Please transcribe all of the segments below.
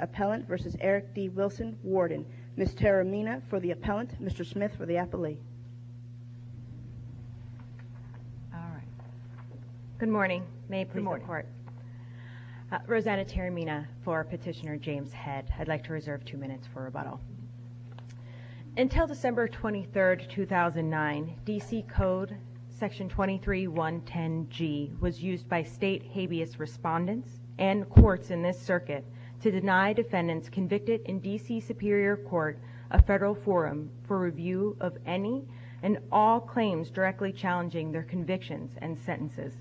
Appellant v. Eric D. Wilson, Warden Ms. Taramina for the Appellant, Mr. Smith for the Appellee Ms. Taramina, for Petitioner James Head, I'd like to reserve two minutes for rebuttal. Until December 23, 2009, D.C. Code Section 23110G was used by state habeas respondents and courts in this circuit to deny defendants convicted in D.C. Superior Court a federal forum for review of any and all claims directly challenging their convictions and sentences.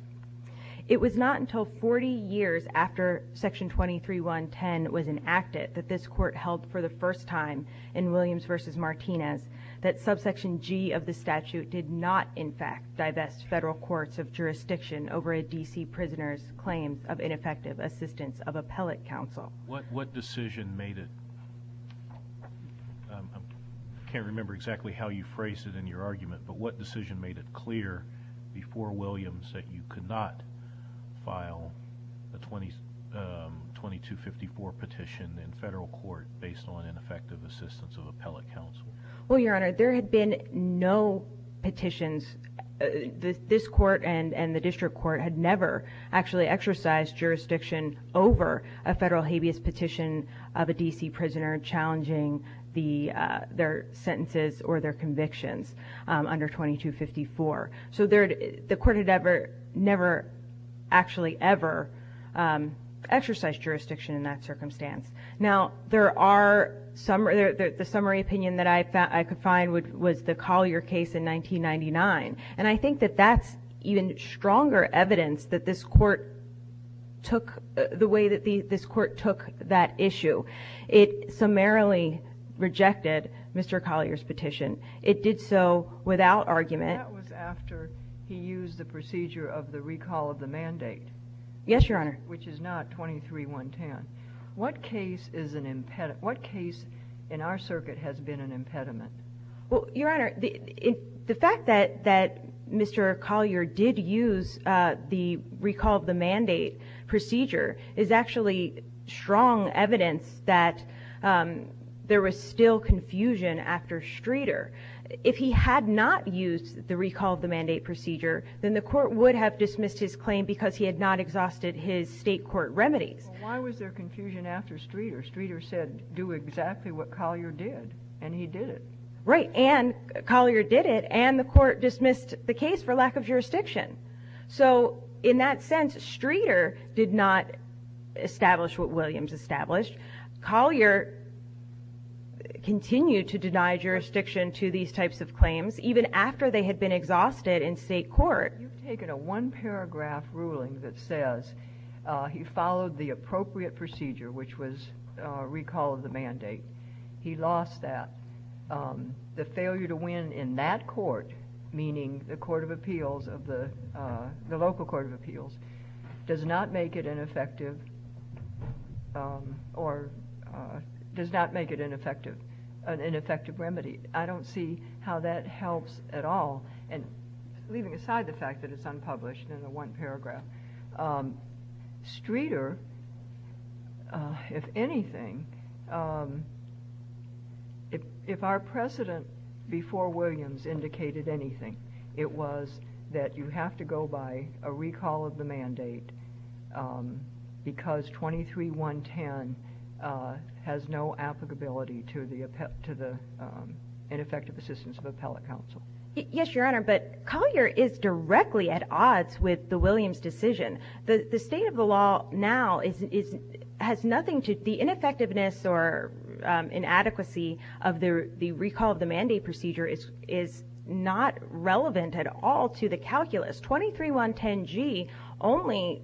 It was not until 40 years after Section 23110 was enacted that this court held for the first time in Williams v. Martinez that Subsection G of the statute did not, in fact, divest federal courts of jurisdiction over a D.C. prisoner's claim of ineffective assistance of appellate counsel. What decision made it clear before Williams that you could not file a 2254 petition in federal court based on ineffective assistance of appellate counsel? There had been no petitions. This court and the district court had never actually exercised jurisdiction over a federal habeas petition of a D.C. prisoner challenging their sentences or their convictions under 2254. So the court had never actually ever exercised jurisdiction in that circumstance. Now, the summary opinion that I could find was the Collier case in 1999. And I think that that's even stronger evidence that this court took the way that this court took that issue. It summarily rejected Mr. Collier's petition. It did so without argument. That was after he used the procedure of the recall of the mandate. Yes, Your Honor. Which is not 23110. What case in our circuit has been an impediment? Well, Your Honor, the fact that Mr. Collier did use the recall of the mandate procedure is actually strong evidence that there was still confusion after Streeter. If he had not used the recall of the mandate procedure, then the court would have dismissed his claim because he had not exhausted his state court remedies. Why was there confusion after Streeter? Streeter said, do exactly what Collier did, and he did it. Right, and Collier did it, and the court dismissed the case for lack of jurisdiction. So in that sense, Streeter did not establish what Williams established. Collier continued to deny jurisdiction to these types of claims even after they had been exhausted in state court. You've taken a one-paragraph ruling that says he followed the appropriate procedure, which was recall of the mandate. He lost that. The failure to win in that court, meaning the court of appeals of the local court of appeals, does not make it an effective remedy. I don't see how that helps at all, and leaving aside the fact that it's unpublished in the one-paragraph, Streeter, if anything, if our precedent before Williams indicated anything, it was that you have to go by a recall of the mandate because 23-110 has no applicability to an effective assistance of appellate counsel. Yes, Your Honor, but Collier is directly at odds with the Williams decision. The state of the law now has nothing to, the ineffectiveness or inadequacy of the recall of the mandate procedure is not relevant at all to the calculus. 23-110G only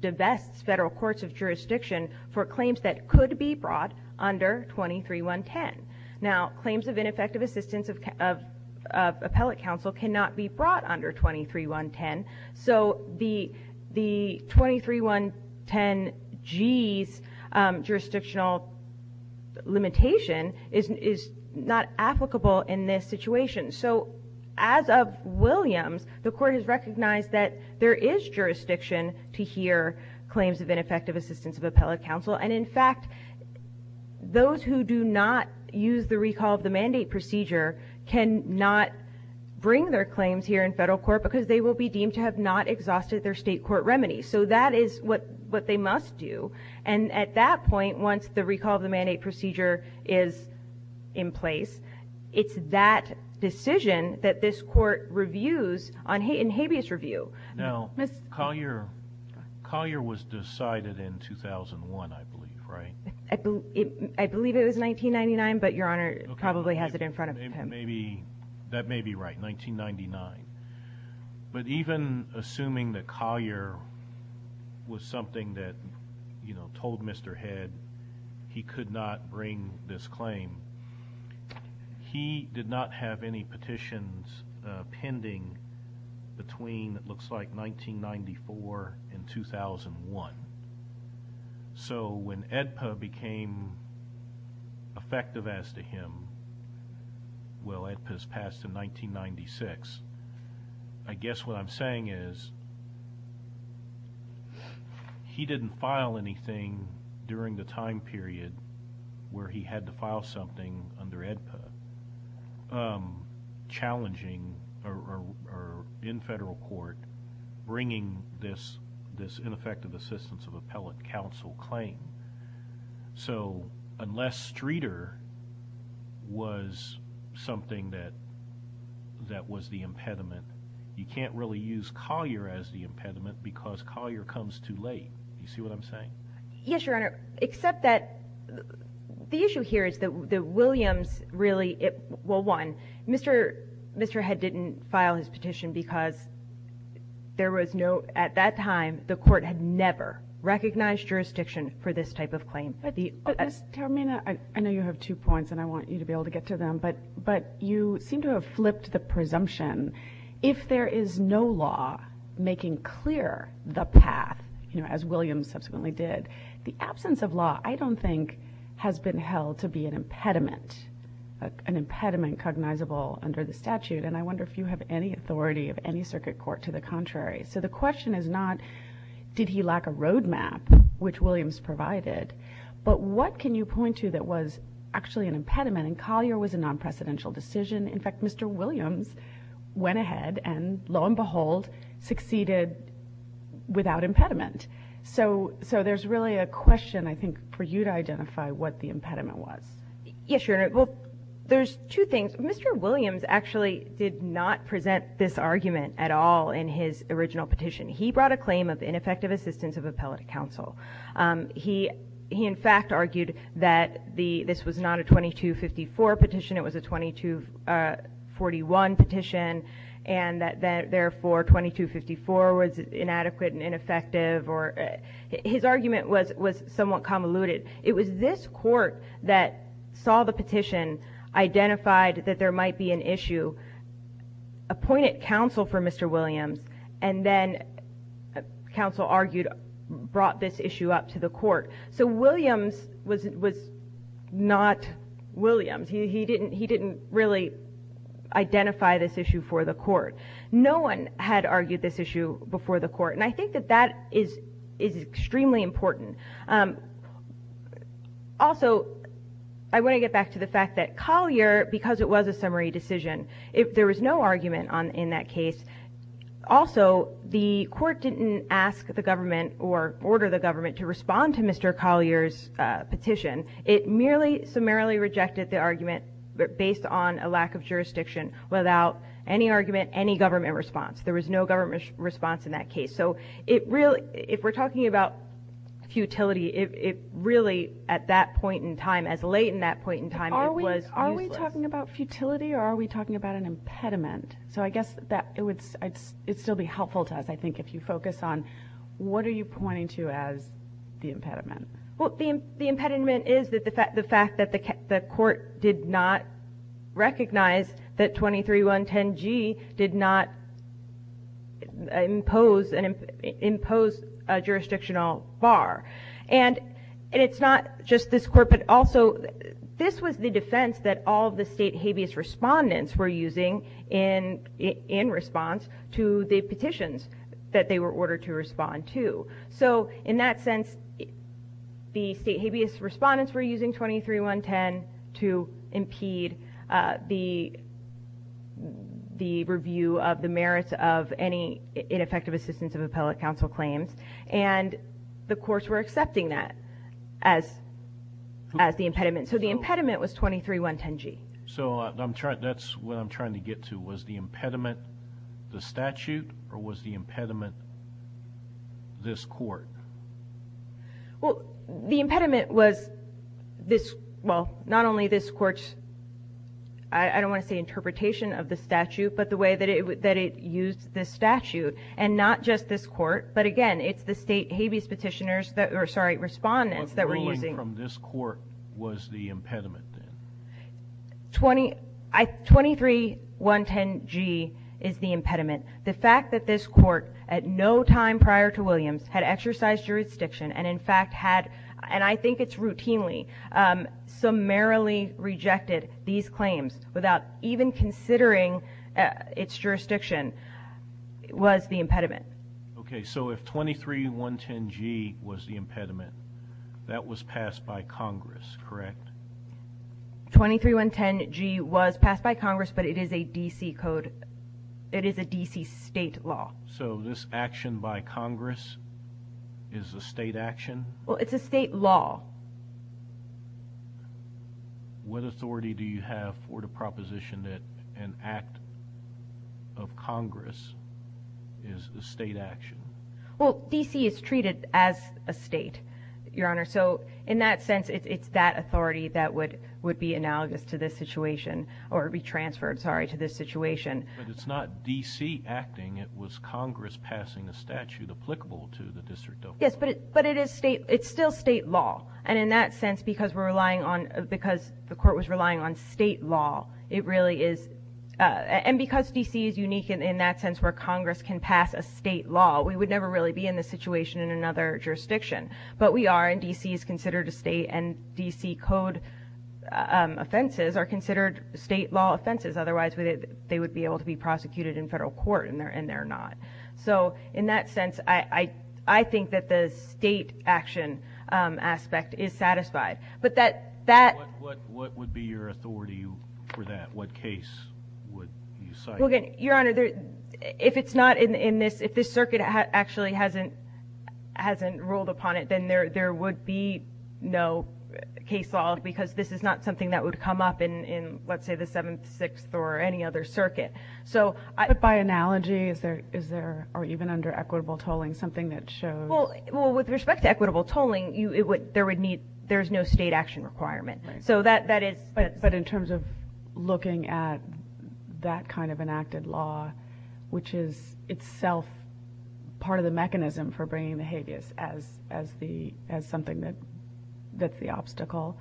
divests federal courts of jurisdiction for claims that could be brought under 23-110. Now, claims of ineffective assistance of appellate counsel cannot be brought under 23-110. So the 23-110G's jurisdictional limitation is not applicable in this situation. So as of Williams, the court has recognized that there is jurisdiction to hear claims of ineffective assistance of appellate counsel, and in fact, those who do not use the recall of the mandate procedure cannot bring their claims here in federal court because they will be deemed to have not exhausted their state court remedy. So that is what they must do. And at that point, once the recall of the mandate procedure is in place, it's that decision that this court reviews in habeas review. Now, Collier was decided in 2001, I believe, right? I believe it was 1999, but Your Honor probably has it in front of him. That may be right, 1999. But even assuming that Collier was something that told Mr. Head he could not bring this claim, he did not have any petitions pending between, it looks like, 1994 and 2001. So when AEDPA became effective as to him, well, AEDPA's passed in 1996, I guess what I'm saying is he didn't file anything during the time period where he had to file something under AEDPA challenging or in federal court bringing this ineffective assistance of appellate counsel claim. So unless Streeter was something that was the impediment, you can't really use Collier as the impediment because Collier comes too late. You see what I'm saying? Yes, Your Honor. Except that the issue here is that Williams really, well, one, Mr. Head didn't file his petition because there was no, at that time, the court had never recognized jurisdiction for this type of claim. But Ms. Termina, I know you have two points and I want you to be able to get to them, but you seem to have flipped the presumption. If there is no law making clear the path, as Williams subsequently did, the absence of law I don't think has been held to be an impediment, an impediment cognizable under the statute. And I wonder if you have any authority of any circuit court to the contrary. So the question is not did he lack a roadmap, which Williams provided, but what can you point to that was actually an impediment and Collier was a non-precedential decision. In fact, Mr. Williams went ahead and, lo and behold, succeeded without impediment. So there's really a question, I think, for you to identify what the impediment was. Yes, Your Honor. Well, there's two things. Mr. Williams actually did not present this argument at all in his original petition. He brought a claim of ineffective assistance of appellate counsel. He, in fact, argued that this was not a 2254 petition, it was a 2241 petition, and that therefore 2254 was inadequate and ineffective. His argument was somewhat convoluted. It was this court that saw the petition, identified that there might be an issue, appointed counsel for Mr. Williams, and then counsel argued brought this issue up to the court. So Williams was not Williams. He didn't really identify this issue for the court. No one had argued this issue before the court, and I think that that is extremely important. Also, I want to get back to the fact that Collier, because it was a summary decision, if there was no argument in that case, also the court didn't ask the government or order the government to respond to Mr. Collier's petition. It merely summarily rejected the argument based on a lack of jurisdiction without any argument, any government response. There was no government response in that case. So if we're talking about futility, it really, at that point in time, as late in that point in time, it was useless. Are we talking about futility or are we talking about an impediment? So I guess it would still be helpful to us, I think, if you focus on what are you pointing to as the impediment. Well, the impediment is the fact that the court did not recognize that 23110G did not impose a jurisdictional bar. And it's not just this court, but also this was the defense that all of the state habeas respondents were using in response to the petitions that they were ordered to respond to. So in that sense, the state habeas respondents were using 23110 to impede the review of the merits of any ineffective assistance of appellate counsel claims. And the courts were accepting that as the impediment. So the impediment was 23110G. So that's what I'm trying to get to. Was the impediment the statute or was the impediment this court? Well, the impediment was this, well, not only this court's, I don't want to say interpretation of the statute, but the way that it used this statute. And not just this court, but, again, it's the state habeas petitioners that were, sorry, respondents that were using. But ruling from this court was the impediment then? 23110G is the impediment. The fact that this court, at no time prior to Williams, had exercised jurisdiction and, in fact, had, and I think it's routinely, summarily rejected these claims without even considering its jurisdiction was the impediment. Okay. So if 23110G was the impediment, that was passed by Congress, correct? 23110G was passed by Congress, but it is a D.C. code. It is a D.C. state law. So this action by Congress is a state action? Well, it's a state law. What authority do you have for the proposition that an act of Congress is a state action? Well, D.C. is treated as a state, Your Honor. So in that sense, it's that authority that would be analogous to this situation or be transferred, sorry, to this situation. But it's not D.C. acting. It was Congress passing a statute applicable to the district. Yes, but it is state, it's still state law. And in that sense, because we're relying on, because the court was relying on state law, it really is, and because D.C. is unique in that sense where Congress can pass a state law, we would never really be in this situation in another jurisdiction. But we are, and D.C. is considered a state, and D.C. code offenses are considered state law offenses. Otherwise, they would be able to be prosecuted in federal court, and they're not. So in that sense, I think that the state action aspect is satisfied. So what would be your authority for that? What case would you cite? Well, again, Your Honor, if it's not in this, if this circuit actually hasn't ruled upon it, then there would be no case law, because this is not something that would come up in, let's say, the Seventh, Sixth, or any other circuit. But by analogy, is there, or even under equitable tolling, something that shows? Well, with respect to equitable tolling, there's no state action requirement. So that is... But in terms of looking at that kind of enacted law, which is itself part of the mechanism for bringing the habeas as something that's the obstacle?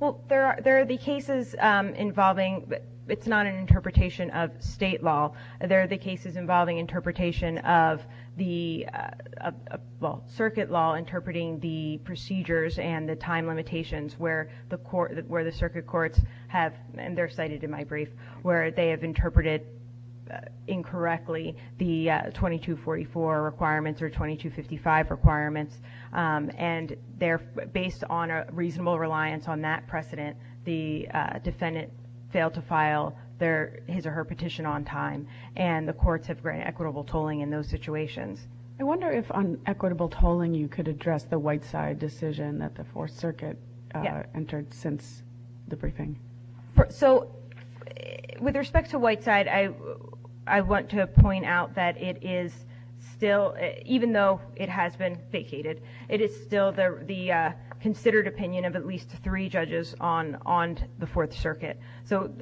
Well, there are the cases involving... It's not an interpretation of state law. There are the cases involving interpretation of the, well, circuit law interpreting the procedures and the time limitations where the circuit courts have, and they're cited in my brief, where they have interpreted incorrectly the 2244 requirements or 2255 requirements. And they're based on a reasonable reliance on that precedent. The defendant failed to file their, his or her petition on time, and the courts have granted equitable tolling in those situations. I wonder if on equitable tolling you could address the Whiteside decision that the Fourth Circuit entered since the briefing. So with respect to Whiteside, I want to point out that it is still, even though it has been vacated, it is still the considered opinion of at least three judges on the Fourth Circuit. So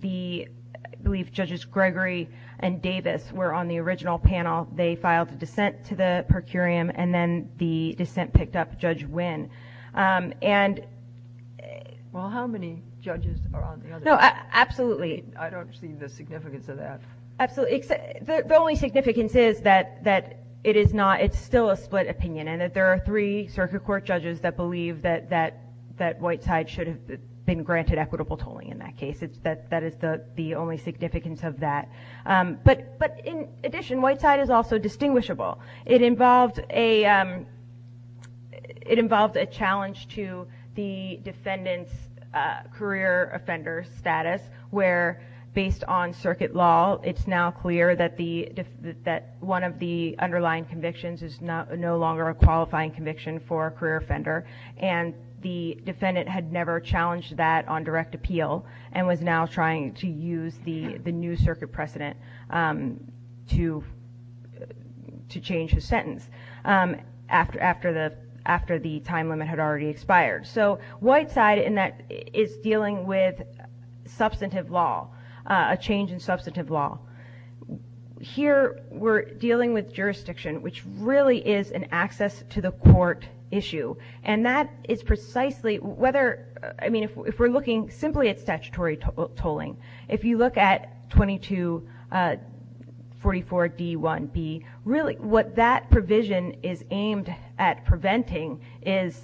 the, I believe, Judges Gregory and Davis were on the original panel. They filed a dissent to the per curiam, and then the dissent picked up Judge Wynn. And... Well, how many judges are on the other panel? No, absolutely. I don't see the significance of that. Absolutely. The only significance is that it is not, it's still a split opinion, and that there are three Circuit Court judges that believe that Whiteside should have been granted equitable tolling in that case. That is the only significance of that. But in addition, Whiteside is also distinguishable. It involved a challenge to the defendant's career offender status, where based on Circuit law, it's now clear that one of the underlying convictions is no longer a qualifying conviction for a career offender, and the defendant had never challenged that on direct appeal and was now trying to use the new Circuit precedent to change his sentence after the time limit had already expired. So Whiteside is dealing with substantive law, a change in substantive law. Here we're dealing with jurisdiction, which really is an access to the court issue. And that is precisely whether, I mean, if we're looking simply at statutory tolling, if you look at 2244D1B, really what that provision is aimed at preventing is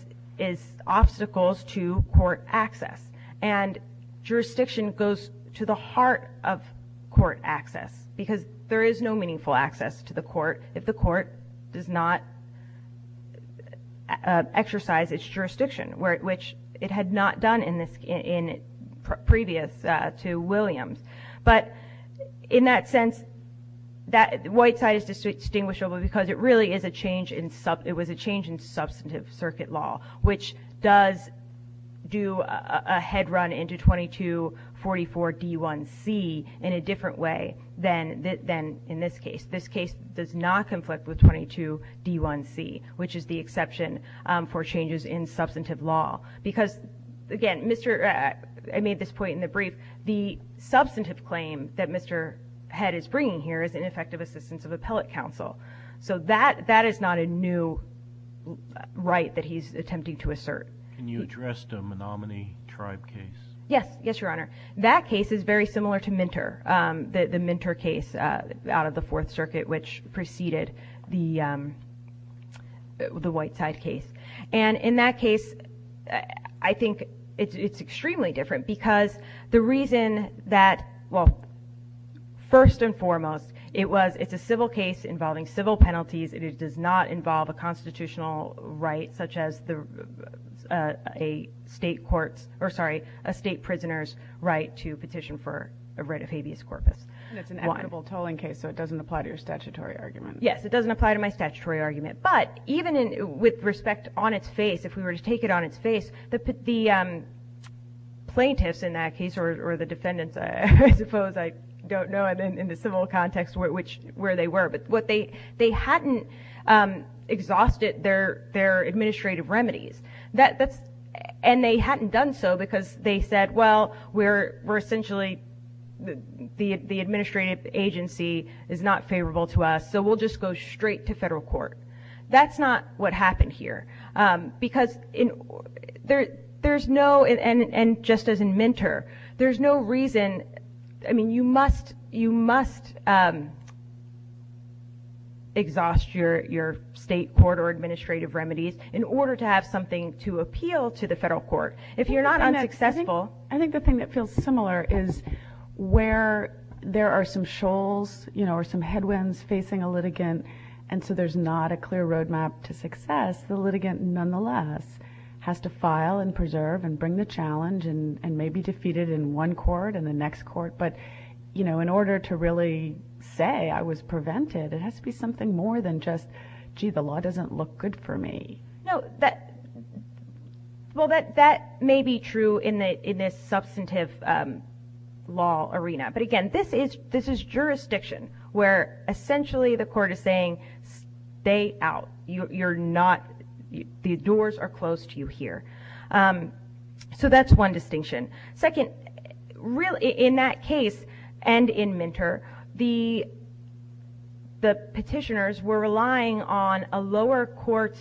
obstacles to court access. And jurisdiction goes to the heart of court access, because there is no meaningful access to the court if the court does not exercise its jurisdiction, which it had not done previous to Williams. But in that sense, Whiteside is distinguishable because it was a change in substantive Circuit law, which does do a head run into 2244D1C in a different way than in this case. This case does not conflict with 22D1C, which is the exception for changes in substantive law. Because, again, I made this point in the brief, the substantive claim that Mr. Head is bringing here is ineffective assistance of appellate counsel. So that is not a new right that he's attempting to assert. Can you address the Menominee Tribe case? Yes. Yes, Your Honor. That case is very similar to Minter, the Minter case out of the Fourth Circuit, which preceded the Whiteside case. And in that case, I think it's extremely different because the reason that, well, first and foremost, it's a civil case involving civil penalties. It does not involve a constitutional right, such as a state prisoner's right to petition for a writ of habeas corpus. And it's an equitable tolling case, so it doesn't apply to your statutory argument. Yes, it doesn't apply to my statutory argument. But even with respect on its face, if we were to take it on its face, the plaintiffs in that case, or the defendants, I suppose, I don't know in the civil context where they were, but they hadn't exhausted their administrative remedies. And they hadn't done so because they said, well, we're essentially the administrative agency is not favorable to us, so we'll just go straight to federal court. That's not what happened here. Because there's no, and just as in Minter, there's no reason, I mean, you must exhaust your state court or administrative remedies in order to have something to appeal to the federal court. If you're not unsuccessful. I think the thing that feels similar is where there are some shoals, or some headwinds facing a litigant, and so there's not a clear roadmap to success, the litigant nonetheless has to file and preserve and bring the challenge and may be defeated in one court and the next court. But in order to really say I was prevented, it has to be something more than just, gee, the law doesn't look good for me. No, that may be true in this substantive law arena. But again, this is jurisdiction where essentially the court is saying, stay out. You're not, the doors are closed to you here. So that's one distinction. Second, in that case, and in Minter, the petitioners were relying on a lower court's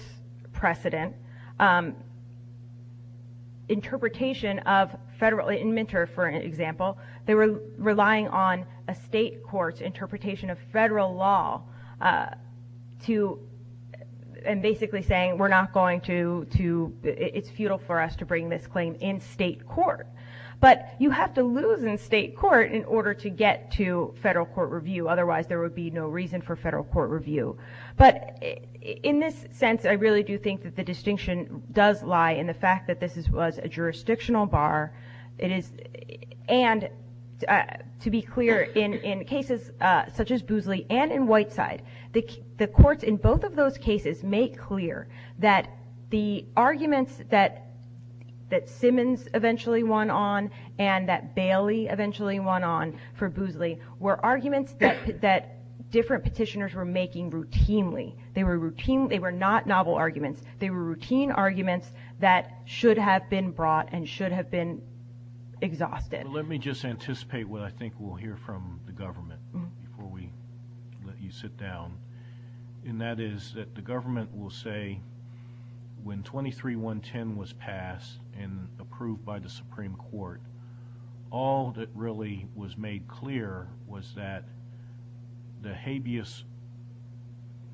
precedent, interpretation of federal, in Minter, for example, they were relying on a state court's interpretation of federal law and basically saying we're not going to, it's futile for us to bring this claim in state court. But you have to lose in state court in order to get to federal court review. Otherwise there would be no reason for federal court review. But in this sense, I really do think that the distinction does lie in the fact that this was a jurisdictional bar, and to be clear, in cases such as Boozley and in Whiteside, the courts in both of those cases make clear that the arguments that Simmons eventually won on and that Bailey eventually won on for Boozley were arguments that different petitioners were making routinely. They were not novel arguments. They were routine arguments that should have been brought and should have been exhausted. Let me just anticipate what I think we'll hear from the government before we let you sit down, and that is that the government will say when 23-110 was passed and approved by the Supreme Court, all that really was made clear was that the habeas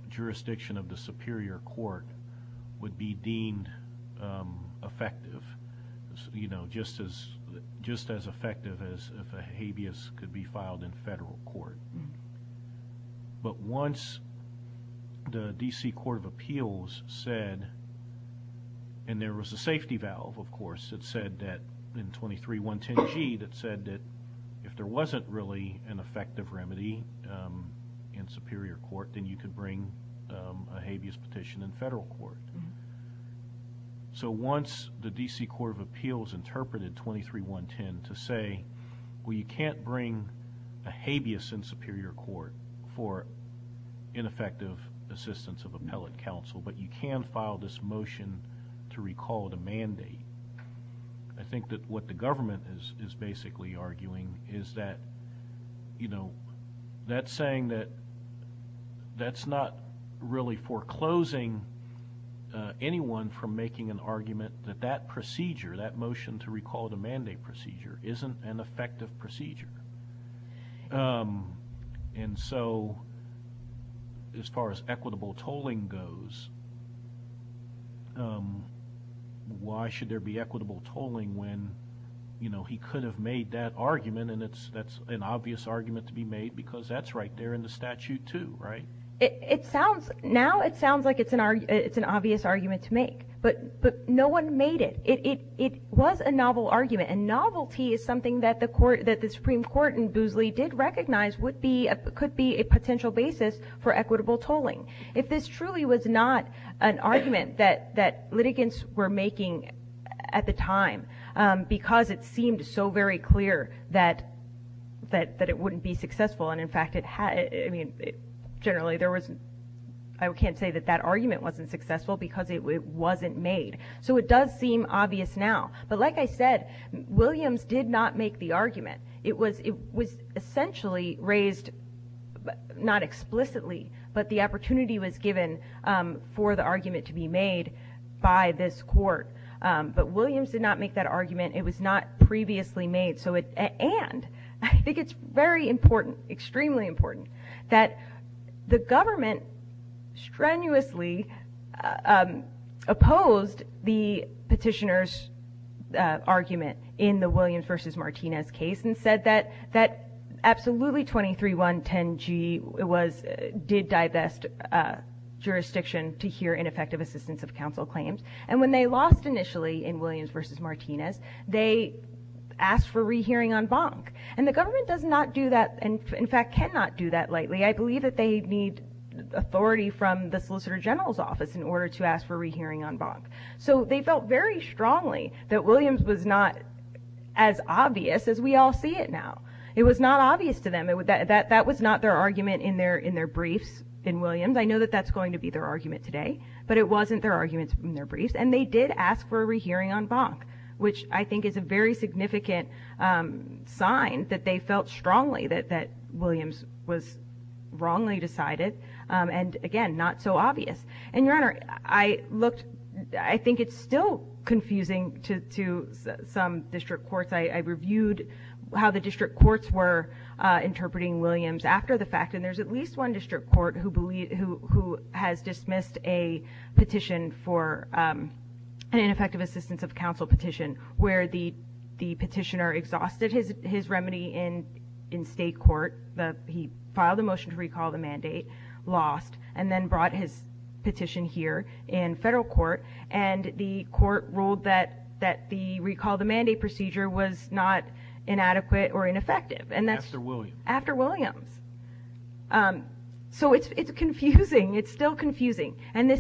jurisdiction of the Superior Court would be deemed effective, just as effective as if a habeas could be filed in federal court. But once the D.C. Court of Appeals said, and there was a safety valve, of course, that said that in 23-110g that said that if there wasn't really an effective remedy in Superior Court, then you could bring a habeas petition in federal court. So once the D.C. Court of Appeals interpreted 23-110 to say, well, you can't bring a habeas in Superior Court for ineffective assistance of appellate counsel, but you can file this motion to recall the mandate, I think that what the government is basically arguing is that, you know, that's saying that that's not really foreclosing anyone from making an argument that that procedure, that motion to recall the mandate procedure, isn't an effective procedure. And so as far as equitable tolling goes, why should there be equitable tolling when, you know, he could have made that argument, and that's an obvious argument to be made because that's right there in the statute too, right? It sounds, now it sounds like it's an obvious argument to make. But no one made it. It was a novel argument, and novelty is something that the Supreme Court in Boosley did recognize could be a potential basis for equitable tolling. If this truly was not an argument that litigants were making at the time because it seemed so very clear that it wouldn't be successful, and in fact it had, I mean, generally there was, I can't say that that argument wasn't successful because it wasn't made. So it does seem obvious now. But like I said, Williams did not make the argument. It was essentially raised, not explicitly, but the opportunity was given for the argument to be made by this court. But Williams did not make that argument. It was not previously made. And I think it's very important, extremely important, that the government strenuously opposed the petitioner's argument in the Williams v. Martinez case and said that absolutely 23.110g did divest jurisdiction to hear ineffective assistance of counsel claims. And when they lost initially in Williams v. Martinez, they asked for rehearing en banc. And the government does not do that, and in fact cannot do that lately. I believe that they need authority from the Solicitor General's office in order to ask for rehearing en banc. So they felt very strongly that Williams was not as obvious as we all see it now. It was not obvious to them. That was not their argument in their briefs in Williams. I know that that's going to be their argument today, but it wasn't their argument in their briefs. And they did ask for a rehearing en banc, which I think is a very significant sign that they felt strongly that Williams was wrongly decided and, again, not so obvious. And, Your Honor, I looked. I think it's still confusing to some district courts. I reviewed how the district courts were interpreting Williams after the fact, and there's at least one district court who has dismissed a petition for an ineffective assistance of counsel petition where the petitioner exhausted his remedy in state court. He filed a motion to recall the mandate, lost, and then brought his petition here in federal court, and the court ruled that the recall the mandate procedure was not inadequate or ineffective, and that's after Williams. So it's confusing. It's still confusing. And,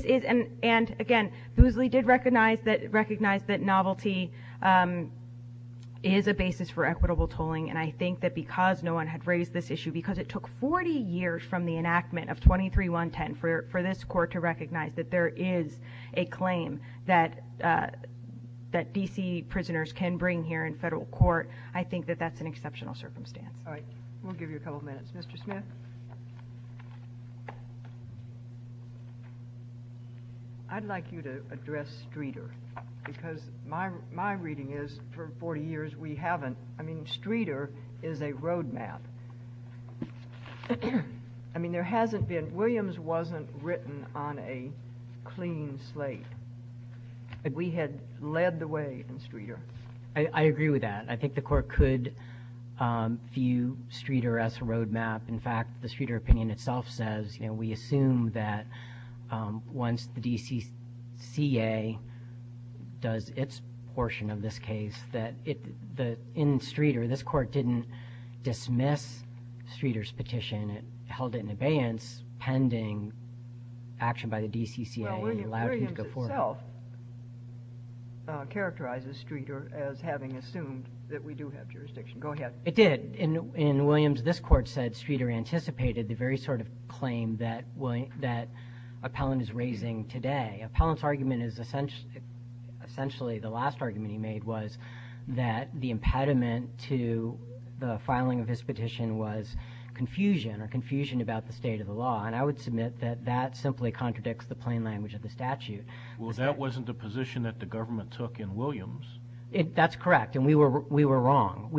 again, Boozley did recognize that novelty is a basis for equitable tolling, and I think that because no one had raised this issue, because it took 40 years from the enactment of 23-110 for this court to recognize that there is a claim that D.C. prisoners can bring here in federal court, I think that that's an exceptional circumstance. All right. We'll give you a couple minutes. Mr. Smith? I'd like you to address Streeter because my reading is for 40 years we haven't. I mean, Streeter is a roadmap. I mean, there hasn't been. Williams wasn't written on a clean slate. We had led the way in Streeter. I agree with that. I think the court could view Streeter as a roadmap. In fact, the Streeter opinion itself says, you know, we assume that once the DCCA does its portion of this case that in Streeter, this court didn't dismiss Streeter's petition. It held it in abeyance pending action by the DCCA. Well, Williams itself characterizes Streeter as having assumed that we do have jurisdiction. Go ahead. It did. In Williams, this court said Streeter anticipated the very sort of claim that Appellant is raising today. Appellant's argument is essentially the last argument he made was that the impediment to the filing of his petition was confusion or confusion about the state of the law, and I would submit that that simply contradicts the plain language of the statute. Well, that wasn't the position that the government took in Williams. That's correct, and we were wrong.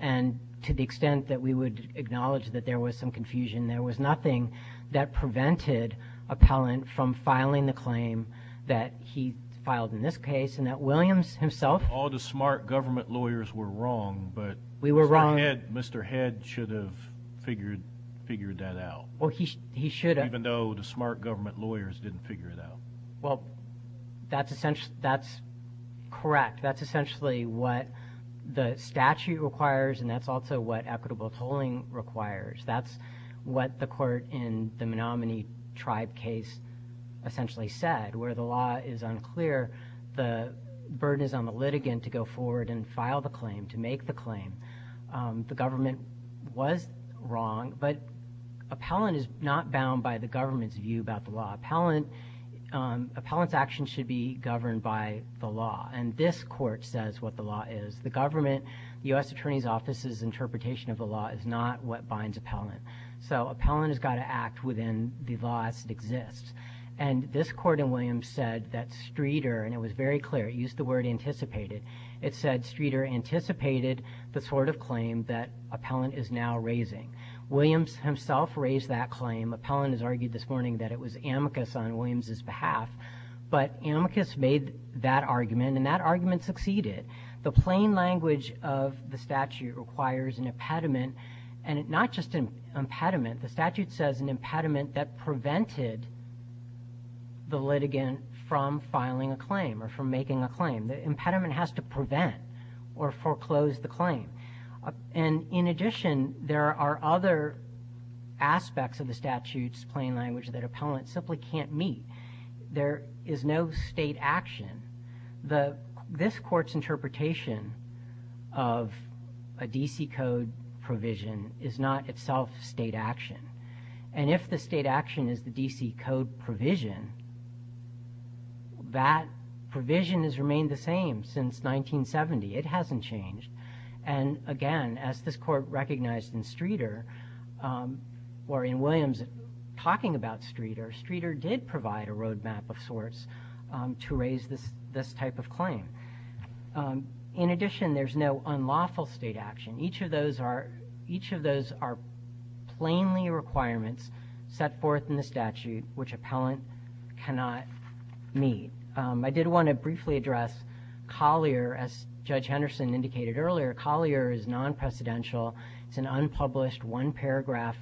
And to the extent that we would acknowledge that there was some confusion, there was nothing that prevented Appellant from filing the claim that he filed in this case and that Williams himself. All the smart government lawyers were wrong, but Mr. Head should have figured that out. Well, he should have. Even though the smart government lawyers didn't figure it out. Well, that's correct. That's essentially what the statute requires, and that's also what equitable tolling requires. That's what the court in the Menominee Tribe case essentially said. Where the law is unclear, the burden is on the litigant to go forward and file the claim, to make the claim. The government was wrong, but Appellant is not bound by the government's view about the law. Appellant's actions should be governed by the law, and this court says what the law is. The government, the U.S. Attorney's Office's interpretation of the law is not what binds Appellant. So Appellant has got to act within the law as it exists. And this court in Williams said that Streeter, and it was very clear, it used the word anticipated. It said Streeter anticipated the sort of claim that Appellant is now raising. Williams himself raised that claim. Appellant has argued this morning that it was amicus on Williams' behalf. But amicus made that argument, and that argument succeeded. The plain language of the statute requires an impediment, and not just an impediment. The statute says an impediment that prevented the litigant from filing a claim or from making a claim. The impediment has to prevent or foreclose the claim. And in addition, there are other aspects of the statute's plain language that Appellant simply can't meet. There is no state action. This court's interpretation of a D.C. Code provision is not itself state action. And if the state action is the D.C. Code provision, that provision has remained the same since 1970. It hasn't changed. And again, as this court recognized in Streeter, or in Williams talking about Streeter, Streeter did provide a road map of sorts to raise this type of claim. In addition, there's no unlawful state action. Each of those are plainly requirements set forth in the statute, which Appellant cannot meet. I did want to briefly address Collier. As Judge Henderson indicated earlier, Collier is non-precedential. It's an unpublished, one-paragraph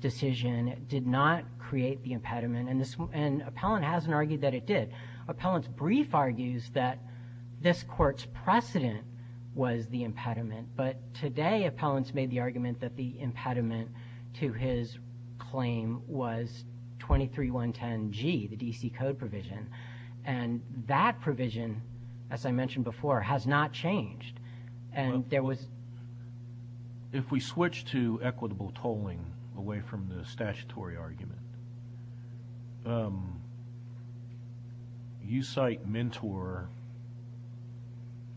decision. It did not create the impediment, and Appellant hasn't argued that it did. Appellant's brief argues that this court's precedent was the impediment, but today Appellant's made the argument that the impediment to his claim was 23-110-G, the D.C. Code provision. And that provision, as I mentioned before, has not changed. Well, if we switch to equitable tolling away from the statutory argument, you cite Mentor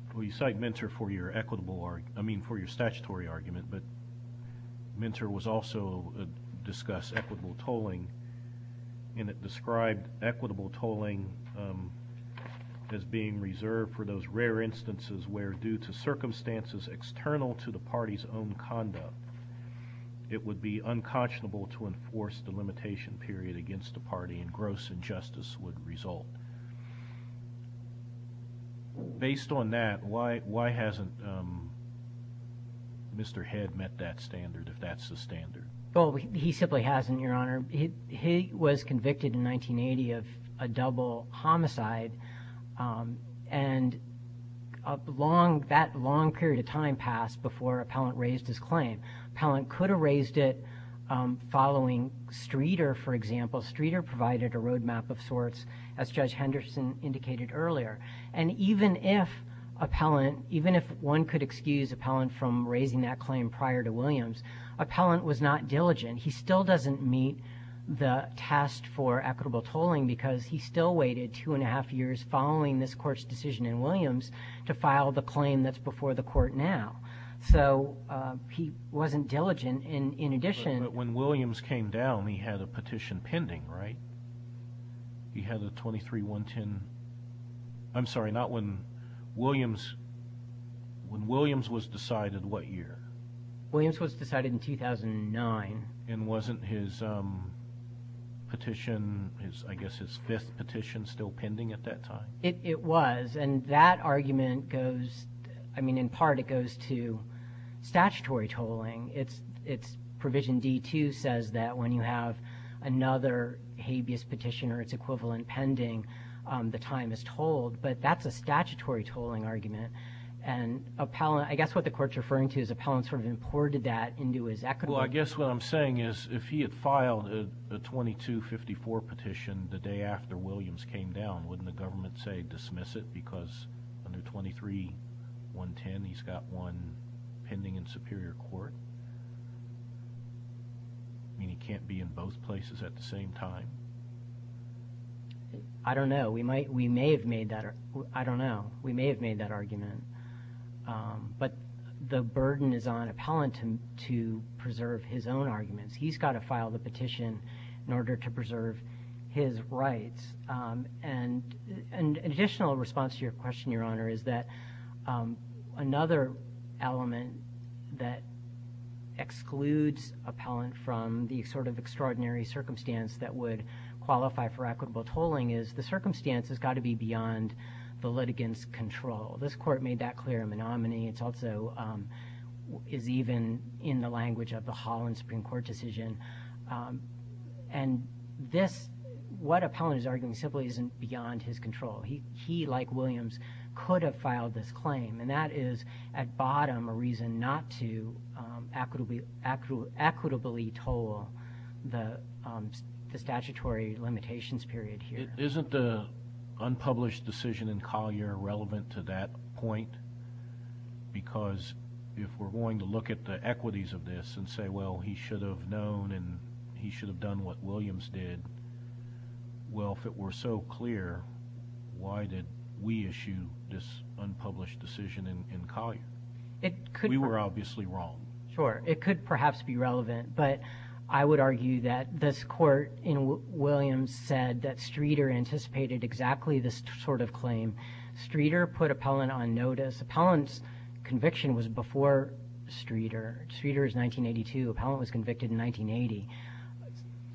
for your statutory argument, but Mentor was also discussed equitable tolling, and it described equitable tolling as being reserved for those rare instances where, due to circumstances external to the party's own conduct, it would be unconscionable to enforce the limitation period against the party and gross injustice would result. Based on that, why hasn't Mr. Head met that standard, if that's the standard? Well, he simply hasn't, Your Honor. He was convicted in 1980 of a double homicide, and that long period of time passed before Appellant raised his claim. Appellant could have raised it following Streeter, for example. Streeter provided a road map of sorts, as Judge Henderson indicated earlier. And even if one could excuse Appellant from raising that claim prior to Williams, Appellant was not diligent. He still doesn't meet the test for equitable tolling because he still waited two-and-a-half years following this Court's decision in Williams to file the claim that's before the Court now. So he wasn't diligent. In addition— But when Williams came down, he had a petition pending, right? He had a 23-110—I'm sorry, not when Williams—when Williams was decided what year? Williams was decided in 2009. And wasn't his petition, I guess his fifth petition, still pending at that time? It was, and that argument goes—I mean, in part it goes to statutory tolling. It's provision D-2 says that when you have another habeas petition or its equivalent pending, the time is tolled, but that's a statutory tolling argument. And Appellant—I guess what the Court's referring to is Appellant sort of imported that into his equitable— Well, I guess what I'm saying is if he had filed a 22-54 petition the day after Williams came down, wouldn't the government say dismiss it because under 23-110 he's got one pending in Superior Court? I mean, he can't be in both places at the same time. I don't know. We may have made that—I don't know. We may have made that argument. But the burden is on Appellant to preserve his own arguments. He's got to file the petition in order to preserve his rights. And an additional response to your question, Your Honor, is that another element that excludes Appellant from the sort of extraordinary circumstance that would qualify for equitable tolling is the circumstance has got to be beyond the litigant's control. This Court made that clear in the nominee. It's also—is even in the language of the Holland Supreme Court decision. And this—what Appellant is arguing simply isn't beyond his control. He, like Williams, could have filed this claim, and that is at bottom a reason not to equitably toll the statutory limitations period here. Isn't the unpublished decision in Collier relevant to that point? Because if we're going to look at the equities of this and say, well, he should have known and he should have done what Williams did, well, if it were so clear, why did we issue this unpublished decision in Collier? We were obviously wrong. Sure. It could perhaps be relevant. But I would argue that this Court in Williams said that Streeter anticipated exactly this sort of claim. Streeter put Appellant on notice. Appellant's conviction was before Streeter. Streeter is 1982. Appellant was convicted in 1980.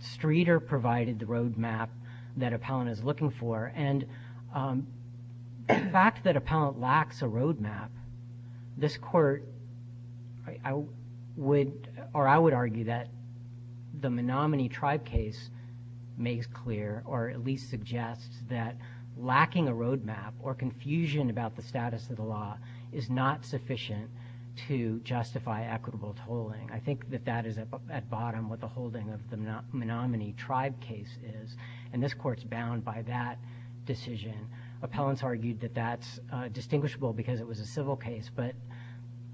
Streeter provided the roadmap that Appellant is looking for. And the fact that Appellant lacks a roadmap, this Court would— or I would argue that the Menominee Tribe case makes clear or at least suggests that lacking a roadmap or confusion about the status of the law is not sufficient to justify equitable tolling. I think that that is at bottom what the holding of the Menominee Tribe case is. And this Court's bound by that decision. Appellant's argued that that's distinguishable because it was a civil case. But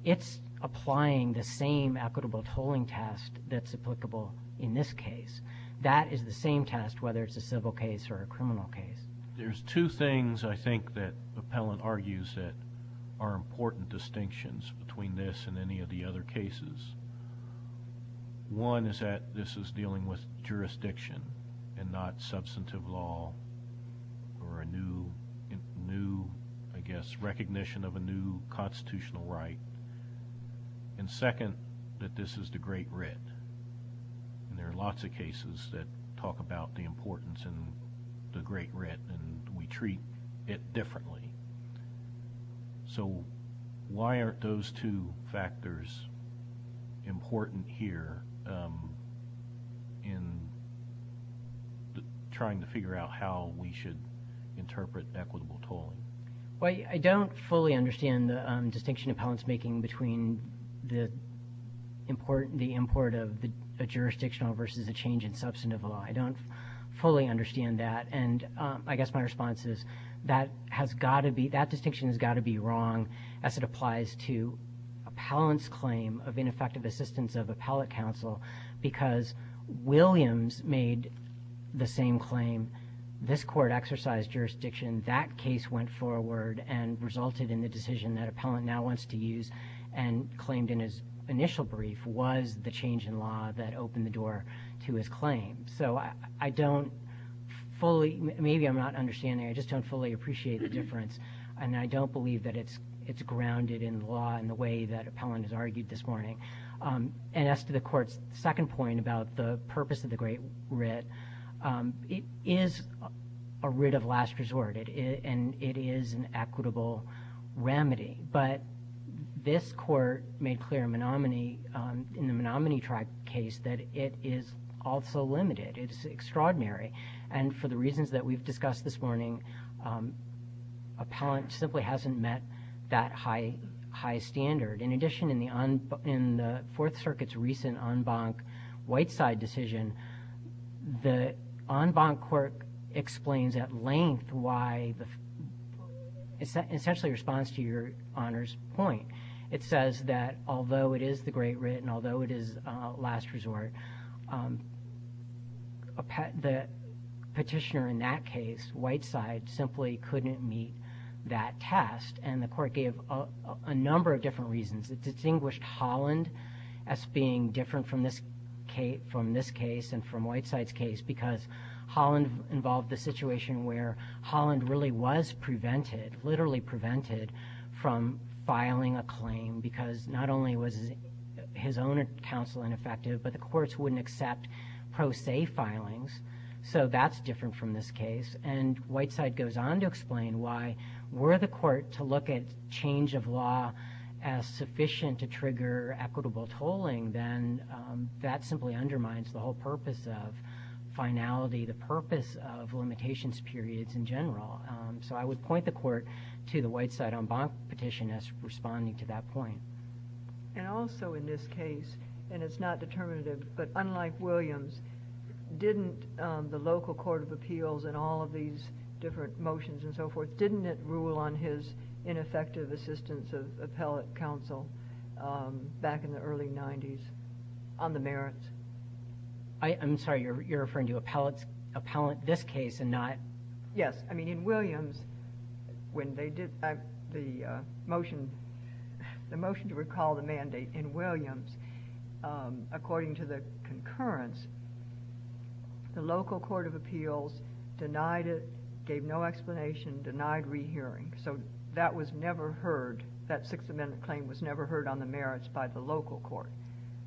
it's applying the same equitable tolling test that's applicable in this case. That is the same test whether it's a civil case or a criminal case. There's two things I think that Appellant argues that are important distinctions between this and any of the other cases. One is that this is dealing with jurisdiction and not substantive law or a new, I guess, recognition of a new constitutional right. And second, that this is the Great Writ. And there are lots of cases that talk about the importance of the Great Writ and we treat it differently. So why aren't those two factors important here in trying to figure out how we should interpret equitable tolling? Well, I don't fully understand the distinction Appellant's making between the import of a jurisdictional versus a change in substantive law. I don't fully understand that. And I guess my response is that distinction has got to be wrong as it applies to Appellant's claim of ineffective assistance of appellate counsel because Williams made the same claim. This court exercised jurisdiction. That case went forward and resulted in the decision that Appellant now wants to use and claimed in his initial brief was the change in law that opened the door to his claim. So I don't fully, maybe I'm not understanding, I just don't fully appreciate the difference. And I don't believe that it's grounded in law in the way that Appellant has argued this morning. And as to the court's second point about the purpose of the Great Writ, it is a writ of last resort and it is an equitable remedy. But this court made clear in the Menominee Tribe case that it is also limited. It is extraordinary. And for the reasons that we've discussed this morning, Appellant simply hasn't met that high standard. In addition, in the Fourth Circuit's recent en banc white side decision, the en banc court explains at length why, essentially responds to your Honor's point. It says that although it is the Great Writ and although it is last resort, the petitioner in that case, white side, simply couldn't meet that test. And the court gave a number of different reasons. It distinguished Holland as being different from this case and from white side's case because Holland involved the situation where Holland really was prevented, literally prevented from filing a claim because not only was his own counsel ineffective, but the courts wouldn't accept pro se filings. So that's different from this case. And white side goes on to explain why were the court to look at change of law as sufficient to trigger equitable tolling, then that simply undermines the whole purpose of finality, the purpose of limitations periods in general. So I would point the court to the white side en banc petition as responding to that point. And also in this case, and it's not determinative, but unlike Williams, didn't the local court of appeals and all of these different motions and so forth, didn't it rule on his ineffective assistance of appellate counsel back in the early 90s on the merits? I'm sorry, you're referring to appellate this case and not... Yes, I mean in Williams, when they did the motion to recall the mandate in Williams, according to the concurrence, the local court of appeals denied it, gave no explanation, denied rehearing. So that was never heard, that Sixth Amendment claim was never heard on the merits by the local court.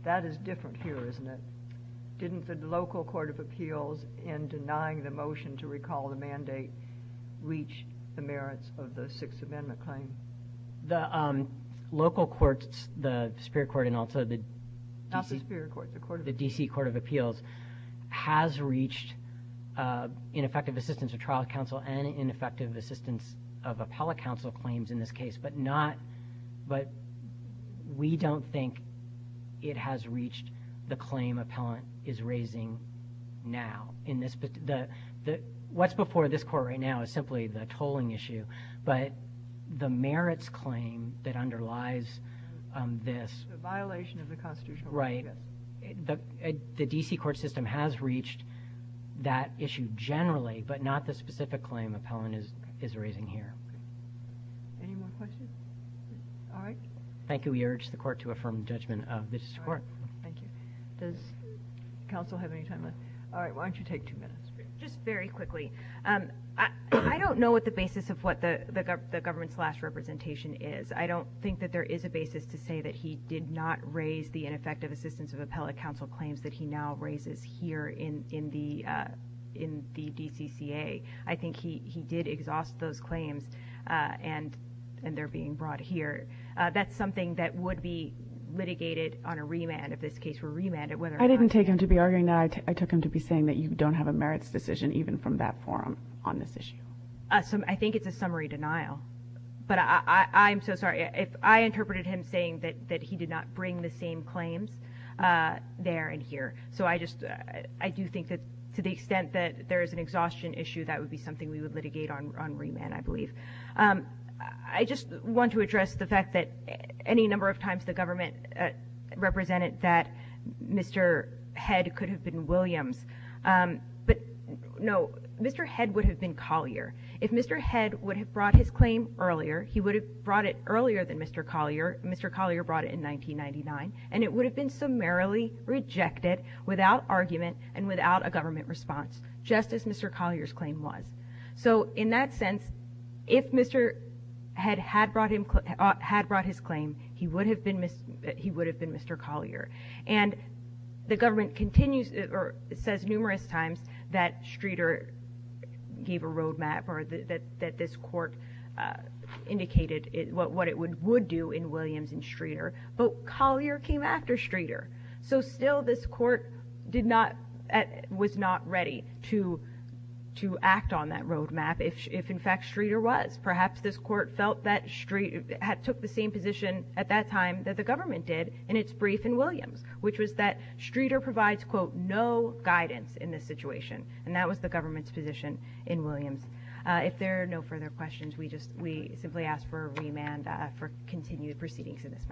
That is different here, isn't it? Didn't the local court of appeals, in denying the motion to recall the mandate, reach the merits of the Sixth Amendment claim? The local courts, the superior court and also the... Not the superior court, the court of appeals. The D.C. court of appeals has reached ineffective assistance of trial counsel and ineffective assistance of appellate counsel claims in this case, but we don't think it has reached the claim appellant is raising now. What's before this court right now is simply the tolling issue, but the merits claim that underlies this... The violation of the constitutional... Right. The D.C. court system has reached that issue generally, but not the specific claim appellant is raising here. Any more questions? All right. Thank you. We urge the court to affirm judgment of this court. Thank you. Does counsel have any time left? All right. Why don't you take two minutes? Just very quickly. I don't know what the basis of what the government's last representation is. I don't think that there is a basis to say that he did not raise the ineffective assistance of appellate counsel claims that he now raises here in the D.C.C.A. I think he did exhaust those claims and they're being brought here. That's something that would be litigated on a remand if this case were remanded. I didn't take him to be arguing that. I took him to be saying that you don't have a merits decision even from that forum on this issue. I think it's a summary denial, but I'm so sorry. I interpreted him saying that he did not bring the same claims there and here, so I do think that to the extent that there is an exhaustion issue, that would be something we would litigate on remand, I believe. I just want to address the fact that any number of times the government represented that Mr. Head could have been Williams. But, no, Mr. Head would have been Collier. If Mr. Head would have brought his claim earlier, he would have brought it earlier than Mr. Collier. Mr. Collier brought it in 1999, and it would have been summarily rejected without argument and without a government response, just as Mr. Collier's claim was. So in that sense, if Mr. Head had brought his claim, he would have been Mr. Collier. And the government continues or says numerous times that Streeter gave a roadmap or that this court indicated what it would do in Williams and Streeter, but Collier came after Streeter. So still this court was not ready to act on that roadmap if, in fact, Streeter was. Perhaps this court took the same position at that time that the government did in its brief in Williams, which was that Streeter provides, quote, no guidance in this situation, and that was the government's position in Williams. If there are no further questions, we simply ask for a remand for continued proceedings in this matter.